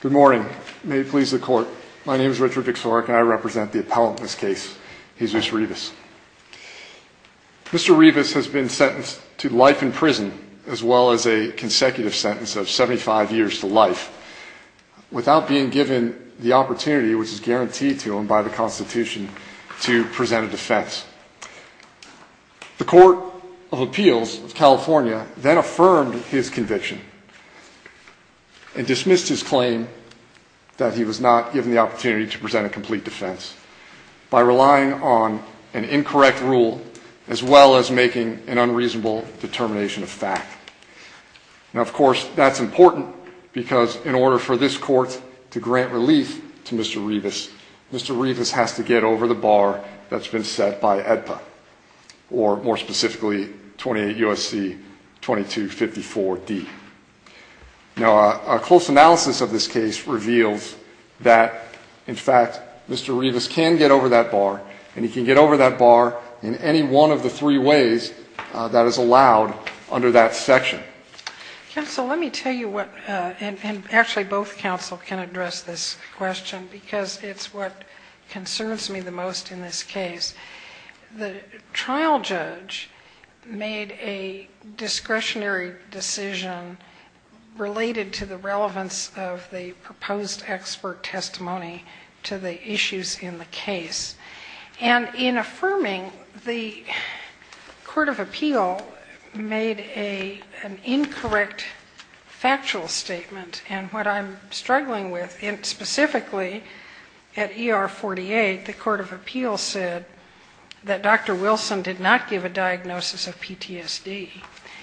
Good morning. May it please the court. My name is Richard Vick Sorek and I represent the appellant in this case, Jesus Rivas. Mr. Rivas has been sentenced to life in prison as well as a consecutive sentence of 75 years to life without being given the opportunity, which is guaranteed to him by the Constitution, to present a defense. The Court of Appeals of California then affirmed his conviction and dismissed his claim that he was not given the opportunity to present a complete defense by relying on an incorrect rule as well as making an unreasonable determination of fact. Now, of course, that's important because in order for this court to grant relief to Mr. Rivas, Mr. Rivas has to get over the bar that's been set by AEDPA, or more specifically, 28 U.S.C. 2254d. Now, a close analysis of this case reveals that, in fact, Mr. Rivas can get over that bar, and he can get over that bar in any one of the three ways that is allowed under that section. Counsel, let me tell you what, and actually both counsel can address this question, because it's what concerns me the most in this case. The trial judge made a discretionary decision related to the relevance of the proposed expert testimony to the issues in the case. And in affirming, the Court of Appeals made an incorrect factual statement, and what I'm struggling with, and specifically at ER 48, the Court of Appeals said that Dr. Wilson did not give a diagnosis of PTSD,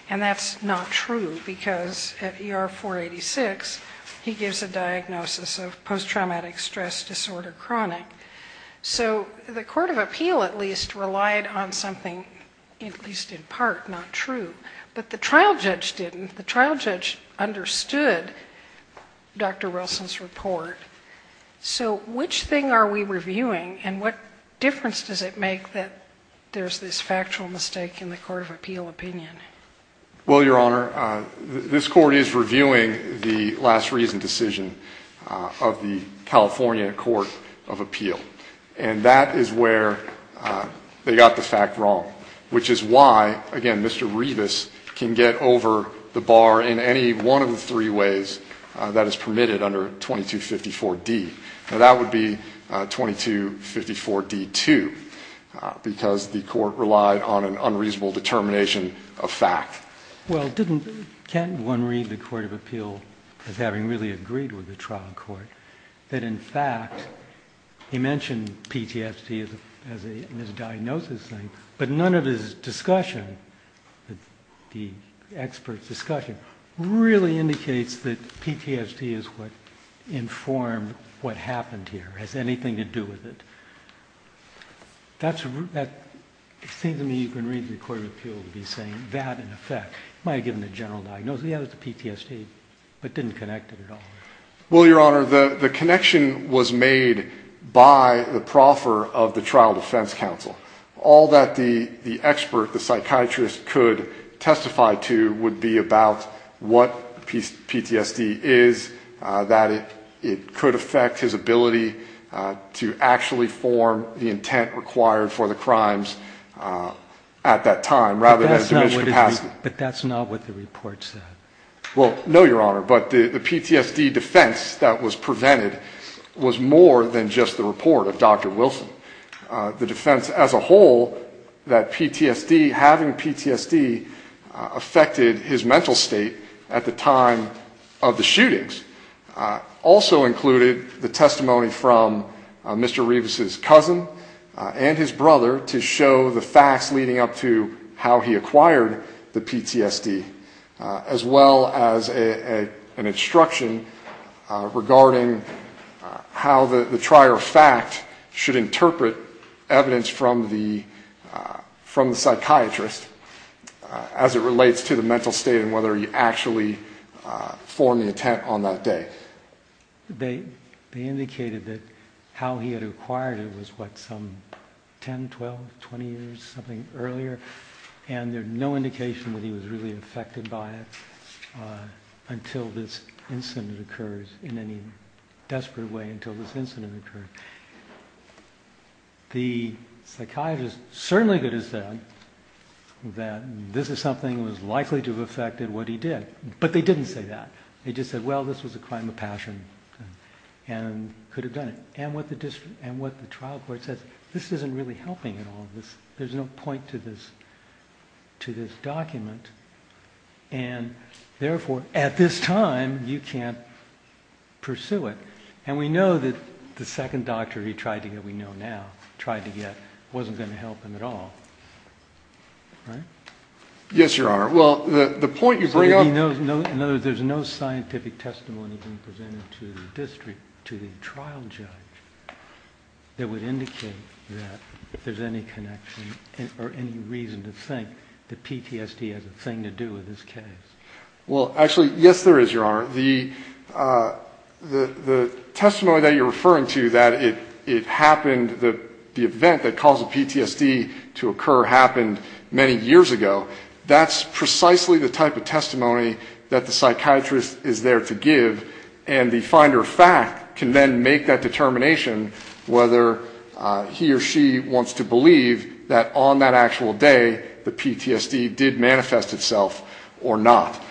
and that's not true because at ER 486, he gives a diagnosis of post-traumatic stress disorder chronic. So the Court of Appeal, at least, relied on something, at least in part, not true. But the trial judge didn't. The trial judge understood Dr. Wilson's report. So which thing are we reviewing, and what difference does it make that there's this factual mistake in the Court of Appeal opinion? Well, Your Honor, this Court is reviewing the last reason decision of the California Court of Appeal, and that is where they got the fact wrong, which is why, again, Mr. Revis can get over the bar in any one of the three ways that is permitted under 2254D. Now, that would be 2254D-2, because the Court relied on an unreasonable determination of fact. Well, didn't, can one read the Court of Appeal as having really agreed with the trial court that, in fact, he mentioned PTSD as a diagnosis thing, but none of his discussion, the expert discussion, really indicates that PTSD is what informed what happened here, has anything to do with it? That seems to me you can read the Court of Appeal to be saying that, in effect. It might have given a general diagnosis, yeah, it was PTSD, but didn't connect it at all. Well, Your Honor, the connection was made by the proffer of the trial defense counsel. All that the expert, the psychiatrist, could testify to would be about what PTSD is, that it could affect his ability to actually form the intent required for the crimes at that time rather than diminished capacity. But that's not what the report said. Well, no, Your Honor, but the PTSD defense that was prevented was more than just the report of Dr. Wilson. The defense as a whole, that PTSD, having PTSD, affected his mental state at the time of the shootings, also included the testimony from Mr. Revis's cousin and his brother to show the facts leading up to how he acquired the PTSD, as well as an instruction regarding how the trier of fact should interpret evidence from the psychiatrist as it relates to the mental state and whether he actually formed the intent on that day. They indicated that how he had acquired it was, what, some 10, 12, 20 years, something earlier, and there's no indication whether he was really affected by it until this incident occurs in any desperate way, until this incident occurred. The psychiatrist certainly could have said that this is something that was likely to have affected what he did, but they didn't say that. They just said, well, this was a crime of passion and could have done it. And what the trial court says, this isn't really helping at all. There's no point to this document. And therefore, at this time, you can't pursue it. And we know that the second doctor he tried to get, we know now, tried to get, wasn't going to help him at all. Right? Yes, Your Honor. Well, the point you bring up... In other words, there's no scientific testimony being presented to the district, to the trial judge, that would indicate that there's any connection or any reason to think that PTSD has a thing to do with this case. Well, actually, yes, there is, Your Honor. The testimony that you're referring to, that it happened, the event that caused the PTSD to occur happened many years ago, that's precisely the type of testimony that the psychiatrist is there to give, and the finder of fact can then make that determination whether he or she wants to believe that on that actual day, the PTSD did manifest itself or not.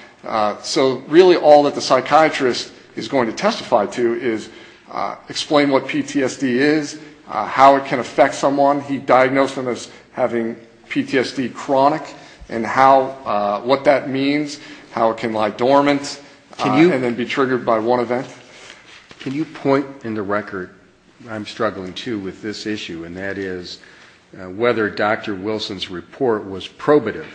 So really all that the psychiatrist is going to testify to is explain what PTSD is, how it can affect someone, he diagnosed them as having PTSD chronic, and what that means, how it can lie dormant, and then be triggered by one event. Can you point in the record, I'm struggling too with this issue, and that is whether Dr. Wilson's report was probative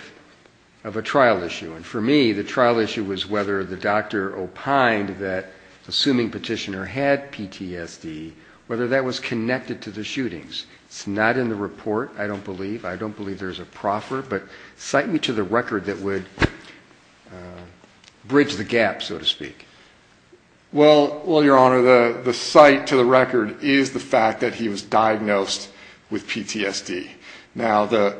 of a trial issue. And for me, the trial issue was whether the doctor opined that, assuming petitioner had PTSD, whether that was connected to the shootings. It's not in the report, I don't believe. But cite me to the record that would bridge the gap, so to speak. Well, Your Honor, the cite to the record is the fact that he was diagnosed with PTSD. Now, the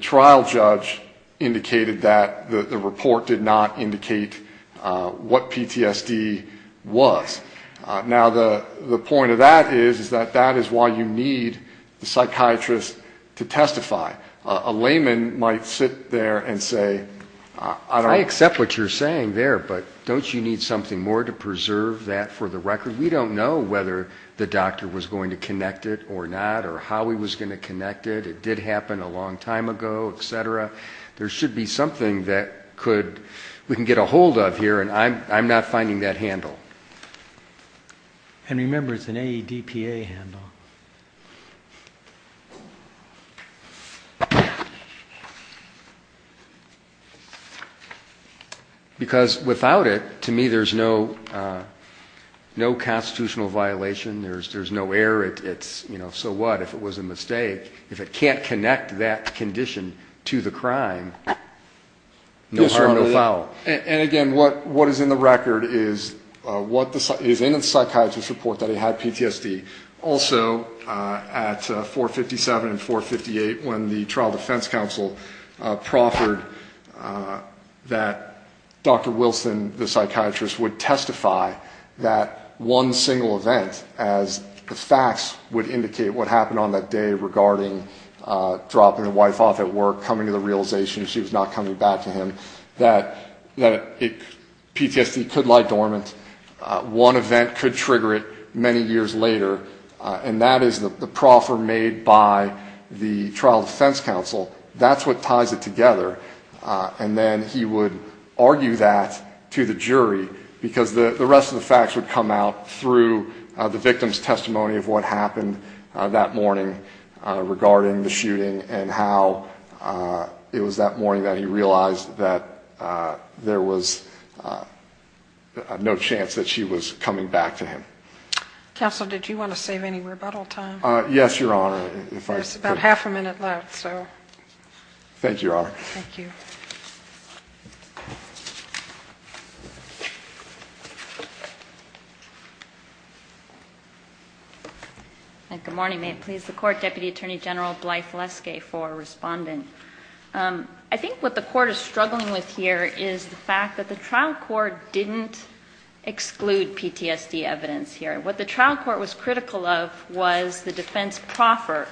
trial judge indicated that the report did not indicate what PTSD was. Now, the point of that is that that is why you need the psychiatrist to testify. A layman might sit there and say, I don't... I accept what you're saying there, but don't you need something more to preserve that for the record? We don't know whether the doctor was going to connect it or not, or how he was going to connect it. It did happen a long time ago, et cetera. There should be something that we can get a hold of here, and I'm not finding that handle. And remember, it's an AEDPA handle. Because without it, to me, there's no constitutional violation, there's no error. So what if it was a mistake? If it can't connect that condition to the crime, no harm, no foul. And again, what is in the record is in the psychiatrist's report that he had PTSD. Also, at 457 and 458, when the trial defense counsel proffered that Dr. Wilson, the psychiatrist, would testify that one single event, as the facts would indicate what happened on that day regarding dropping the wife off at work, coming to the realization she was not coming back to him, that PTSD could lie dormant. One event could trigger it many years later, and that is the proffer made by the trial defense counsel. That's what ties it together. And then he would argue that to the jury, because the rest of the facts would come out through the victim's testimony of what happened that morning regarding the shooting, and how it was that morning that he realized that there was no chance that she was coming back to him. Counsel, did you want to save any rebuttal time? Yes, Your Honor. Good morning. May it please the Court, Deputy Attorney General Blythe Leskay for responding. I think what the Court is struggling with here is the fact that the trial court didn't exclude PTSD evidence here. What the trial court was critical of was the defense proffer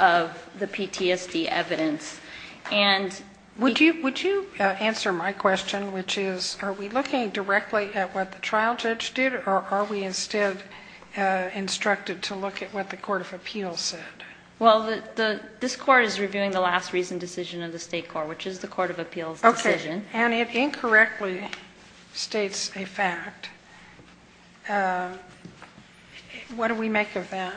of the PTSD evidence. Would you answer my question, which is, are we looking directly at what the trial judge did, or are we instead instructed to look at what the Court of Appeals said? Well, this Court is reviewing the last reason decision of the State Court, which is the Court of Appeals' decision. And it incorrectly states a fact. What do we make of that?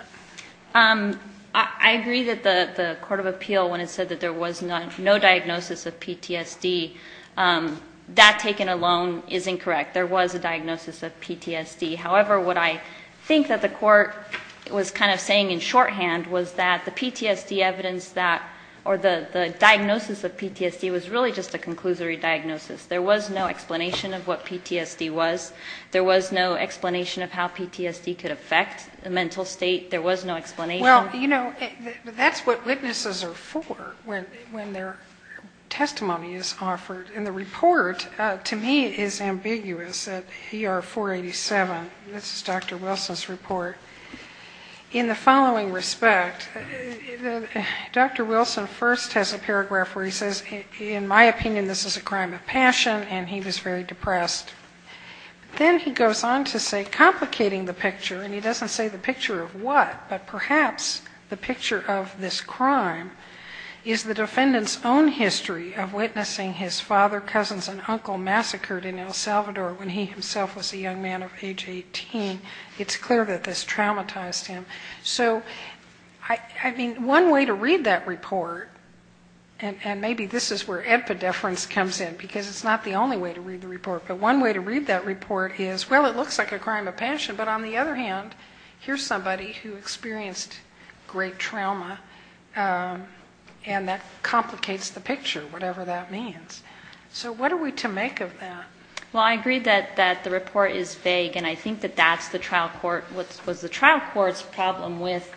I agree that the Court of Appeals, when it said that there was no diagnosis of PTSD, that taken alone is incorrect. There was a diagnosis of PTSD. However, what I think that the Court was kind of saying in shorthand was that the PTSD evidence, or the diagnosis of PTSD, was really just a conclusory diagnosis. There was no explanation of what PTSD was. There was no explanation of how PTSD could affect the mental state. There was no explanation. Well, you know, that's what witnesses are for, when their testimony is offered. And the report, to me, is ambiguous at ER 487. This is Dr. Wilson's report. In the following respect, Dr. Wilson first has a paragraph where he says, in my opinion, this is a crime of passion, and he was very depressed. Then he goes on to say, complicating the picture, and he doesn't say the picture of what, but perhaps the picture of this crime, is the defendant's own history of witnessing his father, cousins, and uncle massacred in El Salvador when he himself was a young man of age 18. It's clear that this traumatized him. So, I mean, one way to read that report, and maybe this is where epidephrines comes in, because it's not the only way to read the report, but one way to read that report is, well, it looks like a crime of passion, but on the other hand, here's somebody who experienced great trauma, and that complicates the picture, whatever that means. So what are we to make of that? Well, I agree that the report is vague, and I think that that's the trial court, was the trial court's problem with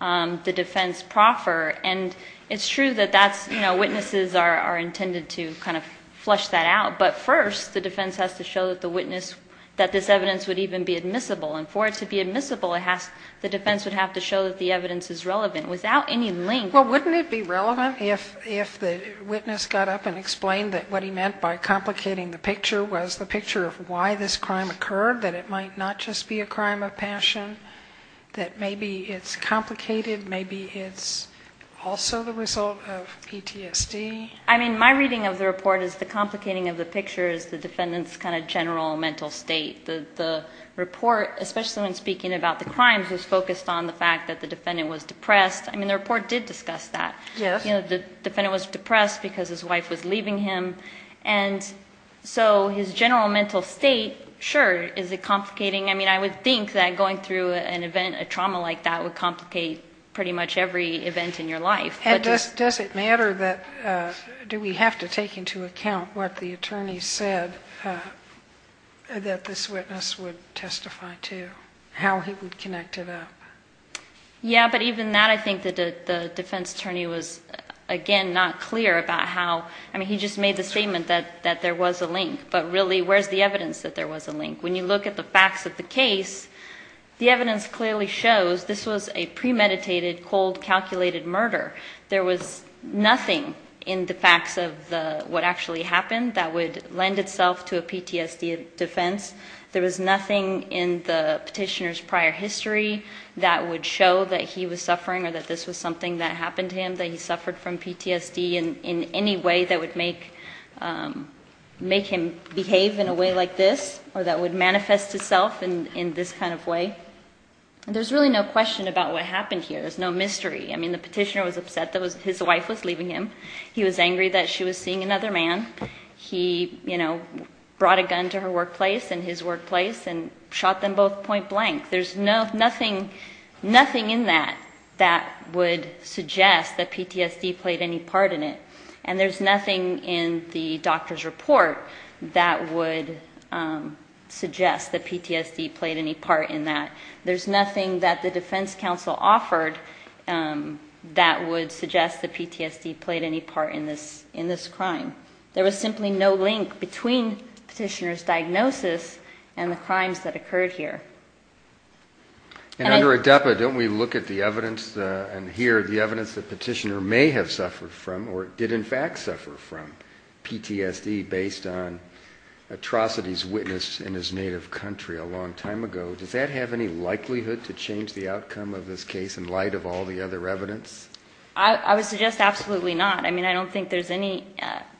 the defense proffer. And it's true that that's, you know, witnesses are intended to kind of flush that out, but first, the defense has to show that they're not. Show that the witness, that this evidence would even be admissible. And for it to be admissible, the defense would have to show that the evidence is relevant, without any link. Well, wouldn't it be relevant if the witness got up and explained that what he meant by complicating the picture was the picture of why this crime occurred, that it might not just be a crime of passion, that maybe it's complicated, maybe it's also the result of PTSD? I mean, my reading of the report is the complicating of the picture is the defendant's kind of general mental state. The report, especially when speaking about the crime, was focused on the fact that the defendant was depressed. I mean, the report did discuss that. Yes. You know, the defendant was depressed because his wife was leaving him, and so his general mental state, sure, is it complicating. I mean, I would think that going through an event, a trauma like that, would complicate pretty much every event in your life. And does it matter that, do we have to take into account what the attorney said that this witness would testify to, how he would connect it up? Yeah, but even that, I think that the defense attorney was, again, not clear about how, I mean, he just made the statement that there was a link, but really, where's the evidence that there was a link? When you look at the facts of the case, the evidence clearly shows this was a premeditated, cold, calculated murder. There was nothing in the facts of what actually happened that would lend itself to a PTSD defense. There was nothing in the petitioner's prior history that would show that he was suffering or that this was something that happened to him, that he suffered from PTSD in any way that would make him behave in a way like this, or that would manifest itself in this kind of way. There's really no question about what happened here. There's no mystery. I mean, the petitioner was upset that his wife was leaving him. He was angry that she was seeing another man. He, you know, brought a gun to her workplace and his workplace and shot them both point blank. There's nothing in that that would suggest that PTSD played any part in it. And there's nothing in the doctor's report that would suggest that PTSD played any part in that. There's nothing that the defense counsel offered that would suggest that PTSD played any part in this crime. There was simply no link between the petitioner's diagnosis and the crimes that occurred here. And under ADEPA, don't we look at the evidence and hear the evidence that the petitioner may have suffered from or did in fact suffer from PTSD based on atrocities witnessed in his native country a long time ago? Does that have any likelihood to change the outcome of this case in light of all the other evidence? I would suggest absolutely not. I mean, I don't think there's any,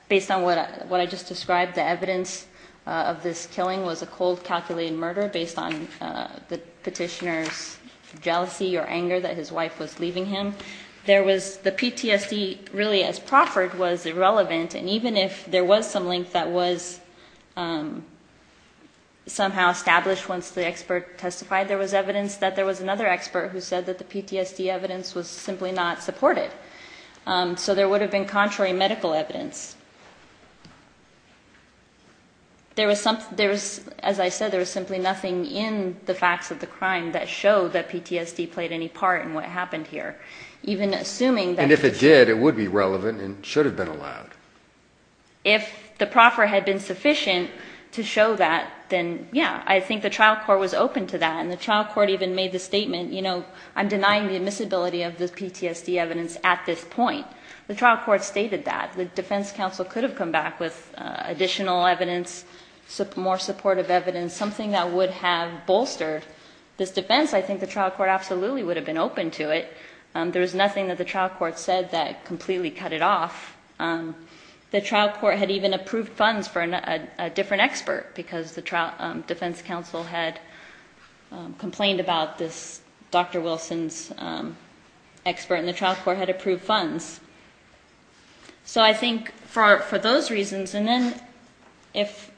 based on what I just described, the evidence of this killing was a cold, calculated murder based on the petitioner's jealousy or anger that his wife was leaving him. There was, the PTSD really as proffered was irrelevant, and even if there was some link that was somehow established once the expert came in, there was no link. The petitioner testified there was evidence that there was another expert who said that the PTSD evidence was simply not supported. So there would have been contrary medical evidence. There was, as I said, there was simply nothing in the facts of the crime that showed that PTSD played any part in what happened here, even assuming that... And if it did, it would be relevant and should have been allowed. If the proffer had been sufficient to show that, then yeah, I think the trial court was open to that. And the trial court even made the statement, you know, I'm denying the admissibility of the PTSD evidence at this point. The trial court stated that. The defense counsel could have come back with additional evidence, more supportive evidence, something that would have bolstered this defense. I think the trial court absolutely would have been open to it. There was nothing that the trial court said that completely cut it off. The trial court had even approved funds for a different expert, because the defense counsel had complained about this Dr. Wilson's expert, and the trial court had approved funds. So I think for those reasons, and then if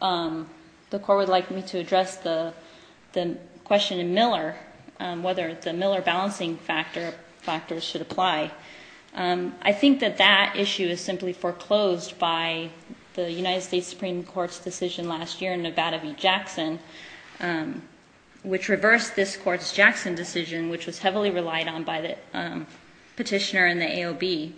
the court would like me to address the question in Miller, I think that would be helpful. Whether the Miller balancing factors should apply. I think that that issue is simply foreclosed by the United States Supreme Court's decision last year in Nevada v. Jackson, which reversed this court's Jackson decision, which was heavily relied on by the petitioner and the AOB.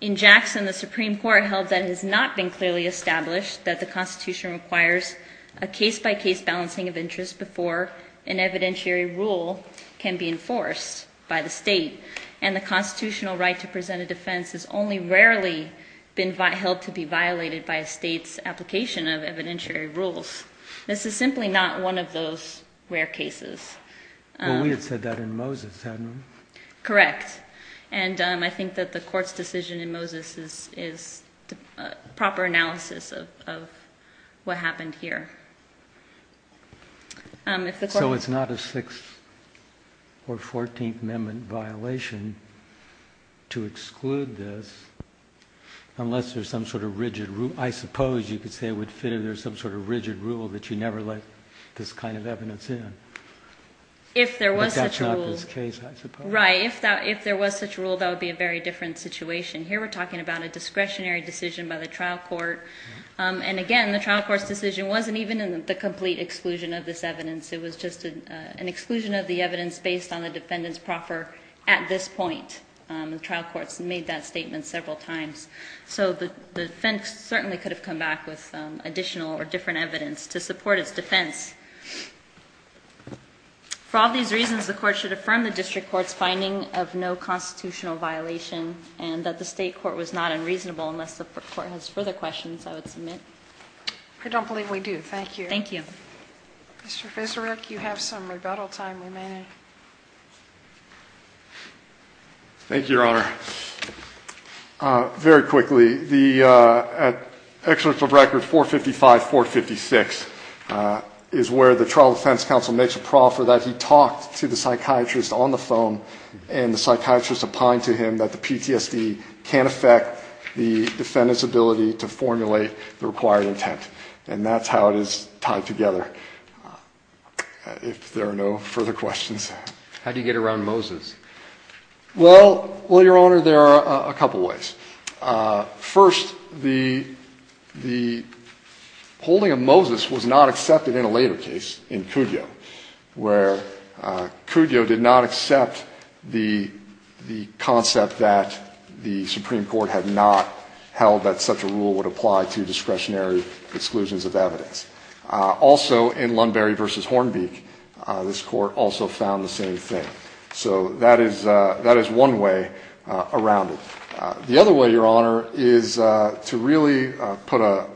In Jackson, the Supreme Court held that it has not been clearly established that the Constitution requires a case-by-case balancing of interest before an evidentiary ruling. And that this rule can be enforced by the state, and the constitutional right to present a defense has only rarely been held to be violated by a state's application of evidentiary rules. This is simply not one of those rare cases. Well, we had said that in Moses, hadn't we? Correct. And I think that the court's decision in Moses is a proper analysis of what happened here. So it's not a Sixth or Fourteenth Amendment violation to exclude this, unless there's some sort of rigid rule. I suppose you could say it would fit if there's some sort of rigid rule that you never let this kind of evidence in. But that's not this case, I suppose. Right. If there was such a rule, that would be a very different situation. Here we're talking about a discretionary decision by the trial court. And again, the trial court's decision wasn't even in the complete exclusion of this evidence. It was just an exclusion of the evidence based on the defendant's proffer at this point. The trial court's made that statement several times. So the defense certainly could have come back with additional or different evidence to support its defense. For all these reasons, the court should affirm the district court's finding of no constitutional violation and that the state court was not unreasonable, unless the court has further questions I would submit. I don't believe we do. Thank you. Thank you. Mr. Fiserick, you have some rebuttal time remaining. Thank you, Your Honor. Very quickly, the excerpt of record 455-456 is where the trial defense counsel makes a proffer that he talked to the psychiatrist on the phone and the psychiatrist opined to him that the PTSD can affect the defendant's ability to formulate the required intent. And that's how it is tied together, if there are no further questions. How do you get around Moses? Well, Your Honor, there are a couple of ways. First, the holding of Moses was not accepted in a later case in Cudjoe, where Cudjoe did not accept the concept that the Supreme Court had not held that such a rule would apply to discretionary exclusions of evidence. Also, in Lunbury v. Hornbeak, this Court also found the same thing. So that is one way around it. The other way, Your Honor, is to really put a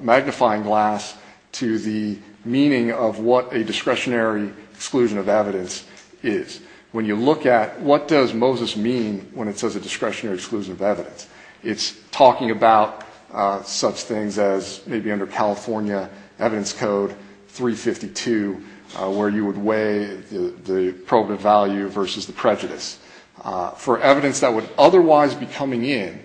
magnifying glass to the meaning of what a discretionary exclusion of evidence is. When you look at what does Moses mean when it says a discretionary exclusion of evidence, it's talking about such things as maybe under California Evidence Code 352, where you would weigh the probative value versus the prejudice. For evidence that would otherwise be coming in,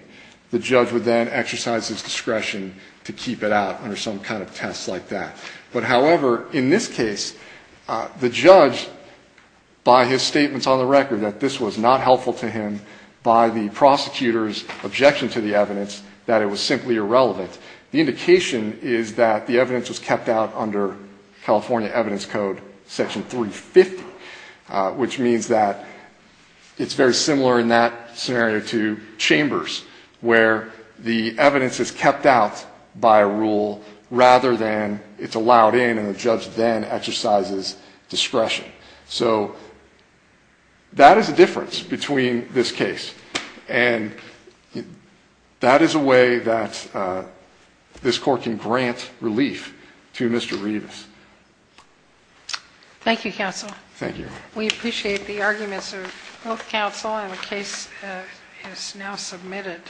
the judge would then exercise his discretion to keep it out under some kind of test like that. But, however, in this case, the judge, by his statements on the record that this was not helpful to him, by the prosecutor's objection to the evidence, that it was simply irrelevant. The indication is that the evidence was kept out under California Evidence Code Section 350, which means that it's very similar in that scenario to Chambers, where the evidence is kept out by a rule rather than it's allowed in and the judge then exercises discretion. So that is the difference between this case. And that is a way that this court can grant relief to Mr. Rivas. Thank you, counsel. Thank you. We appreciate the arguments of both counsel, and the case is now submitted.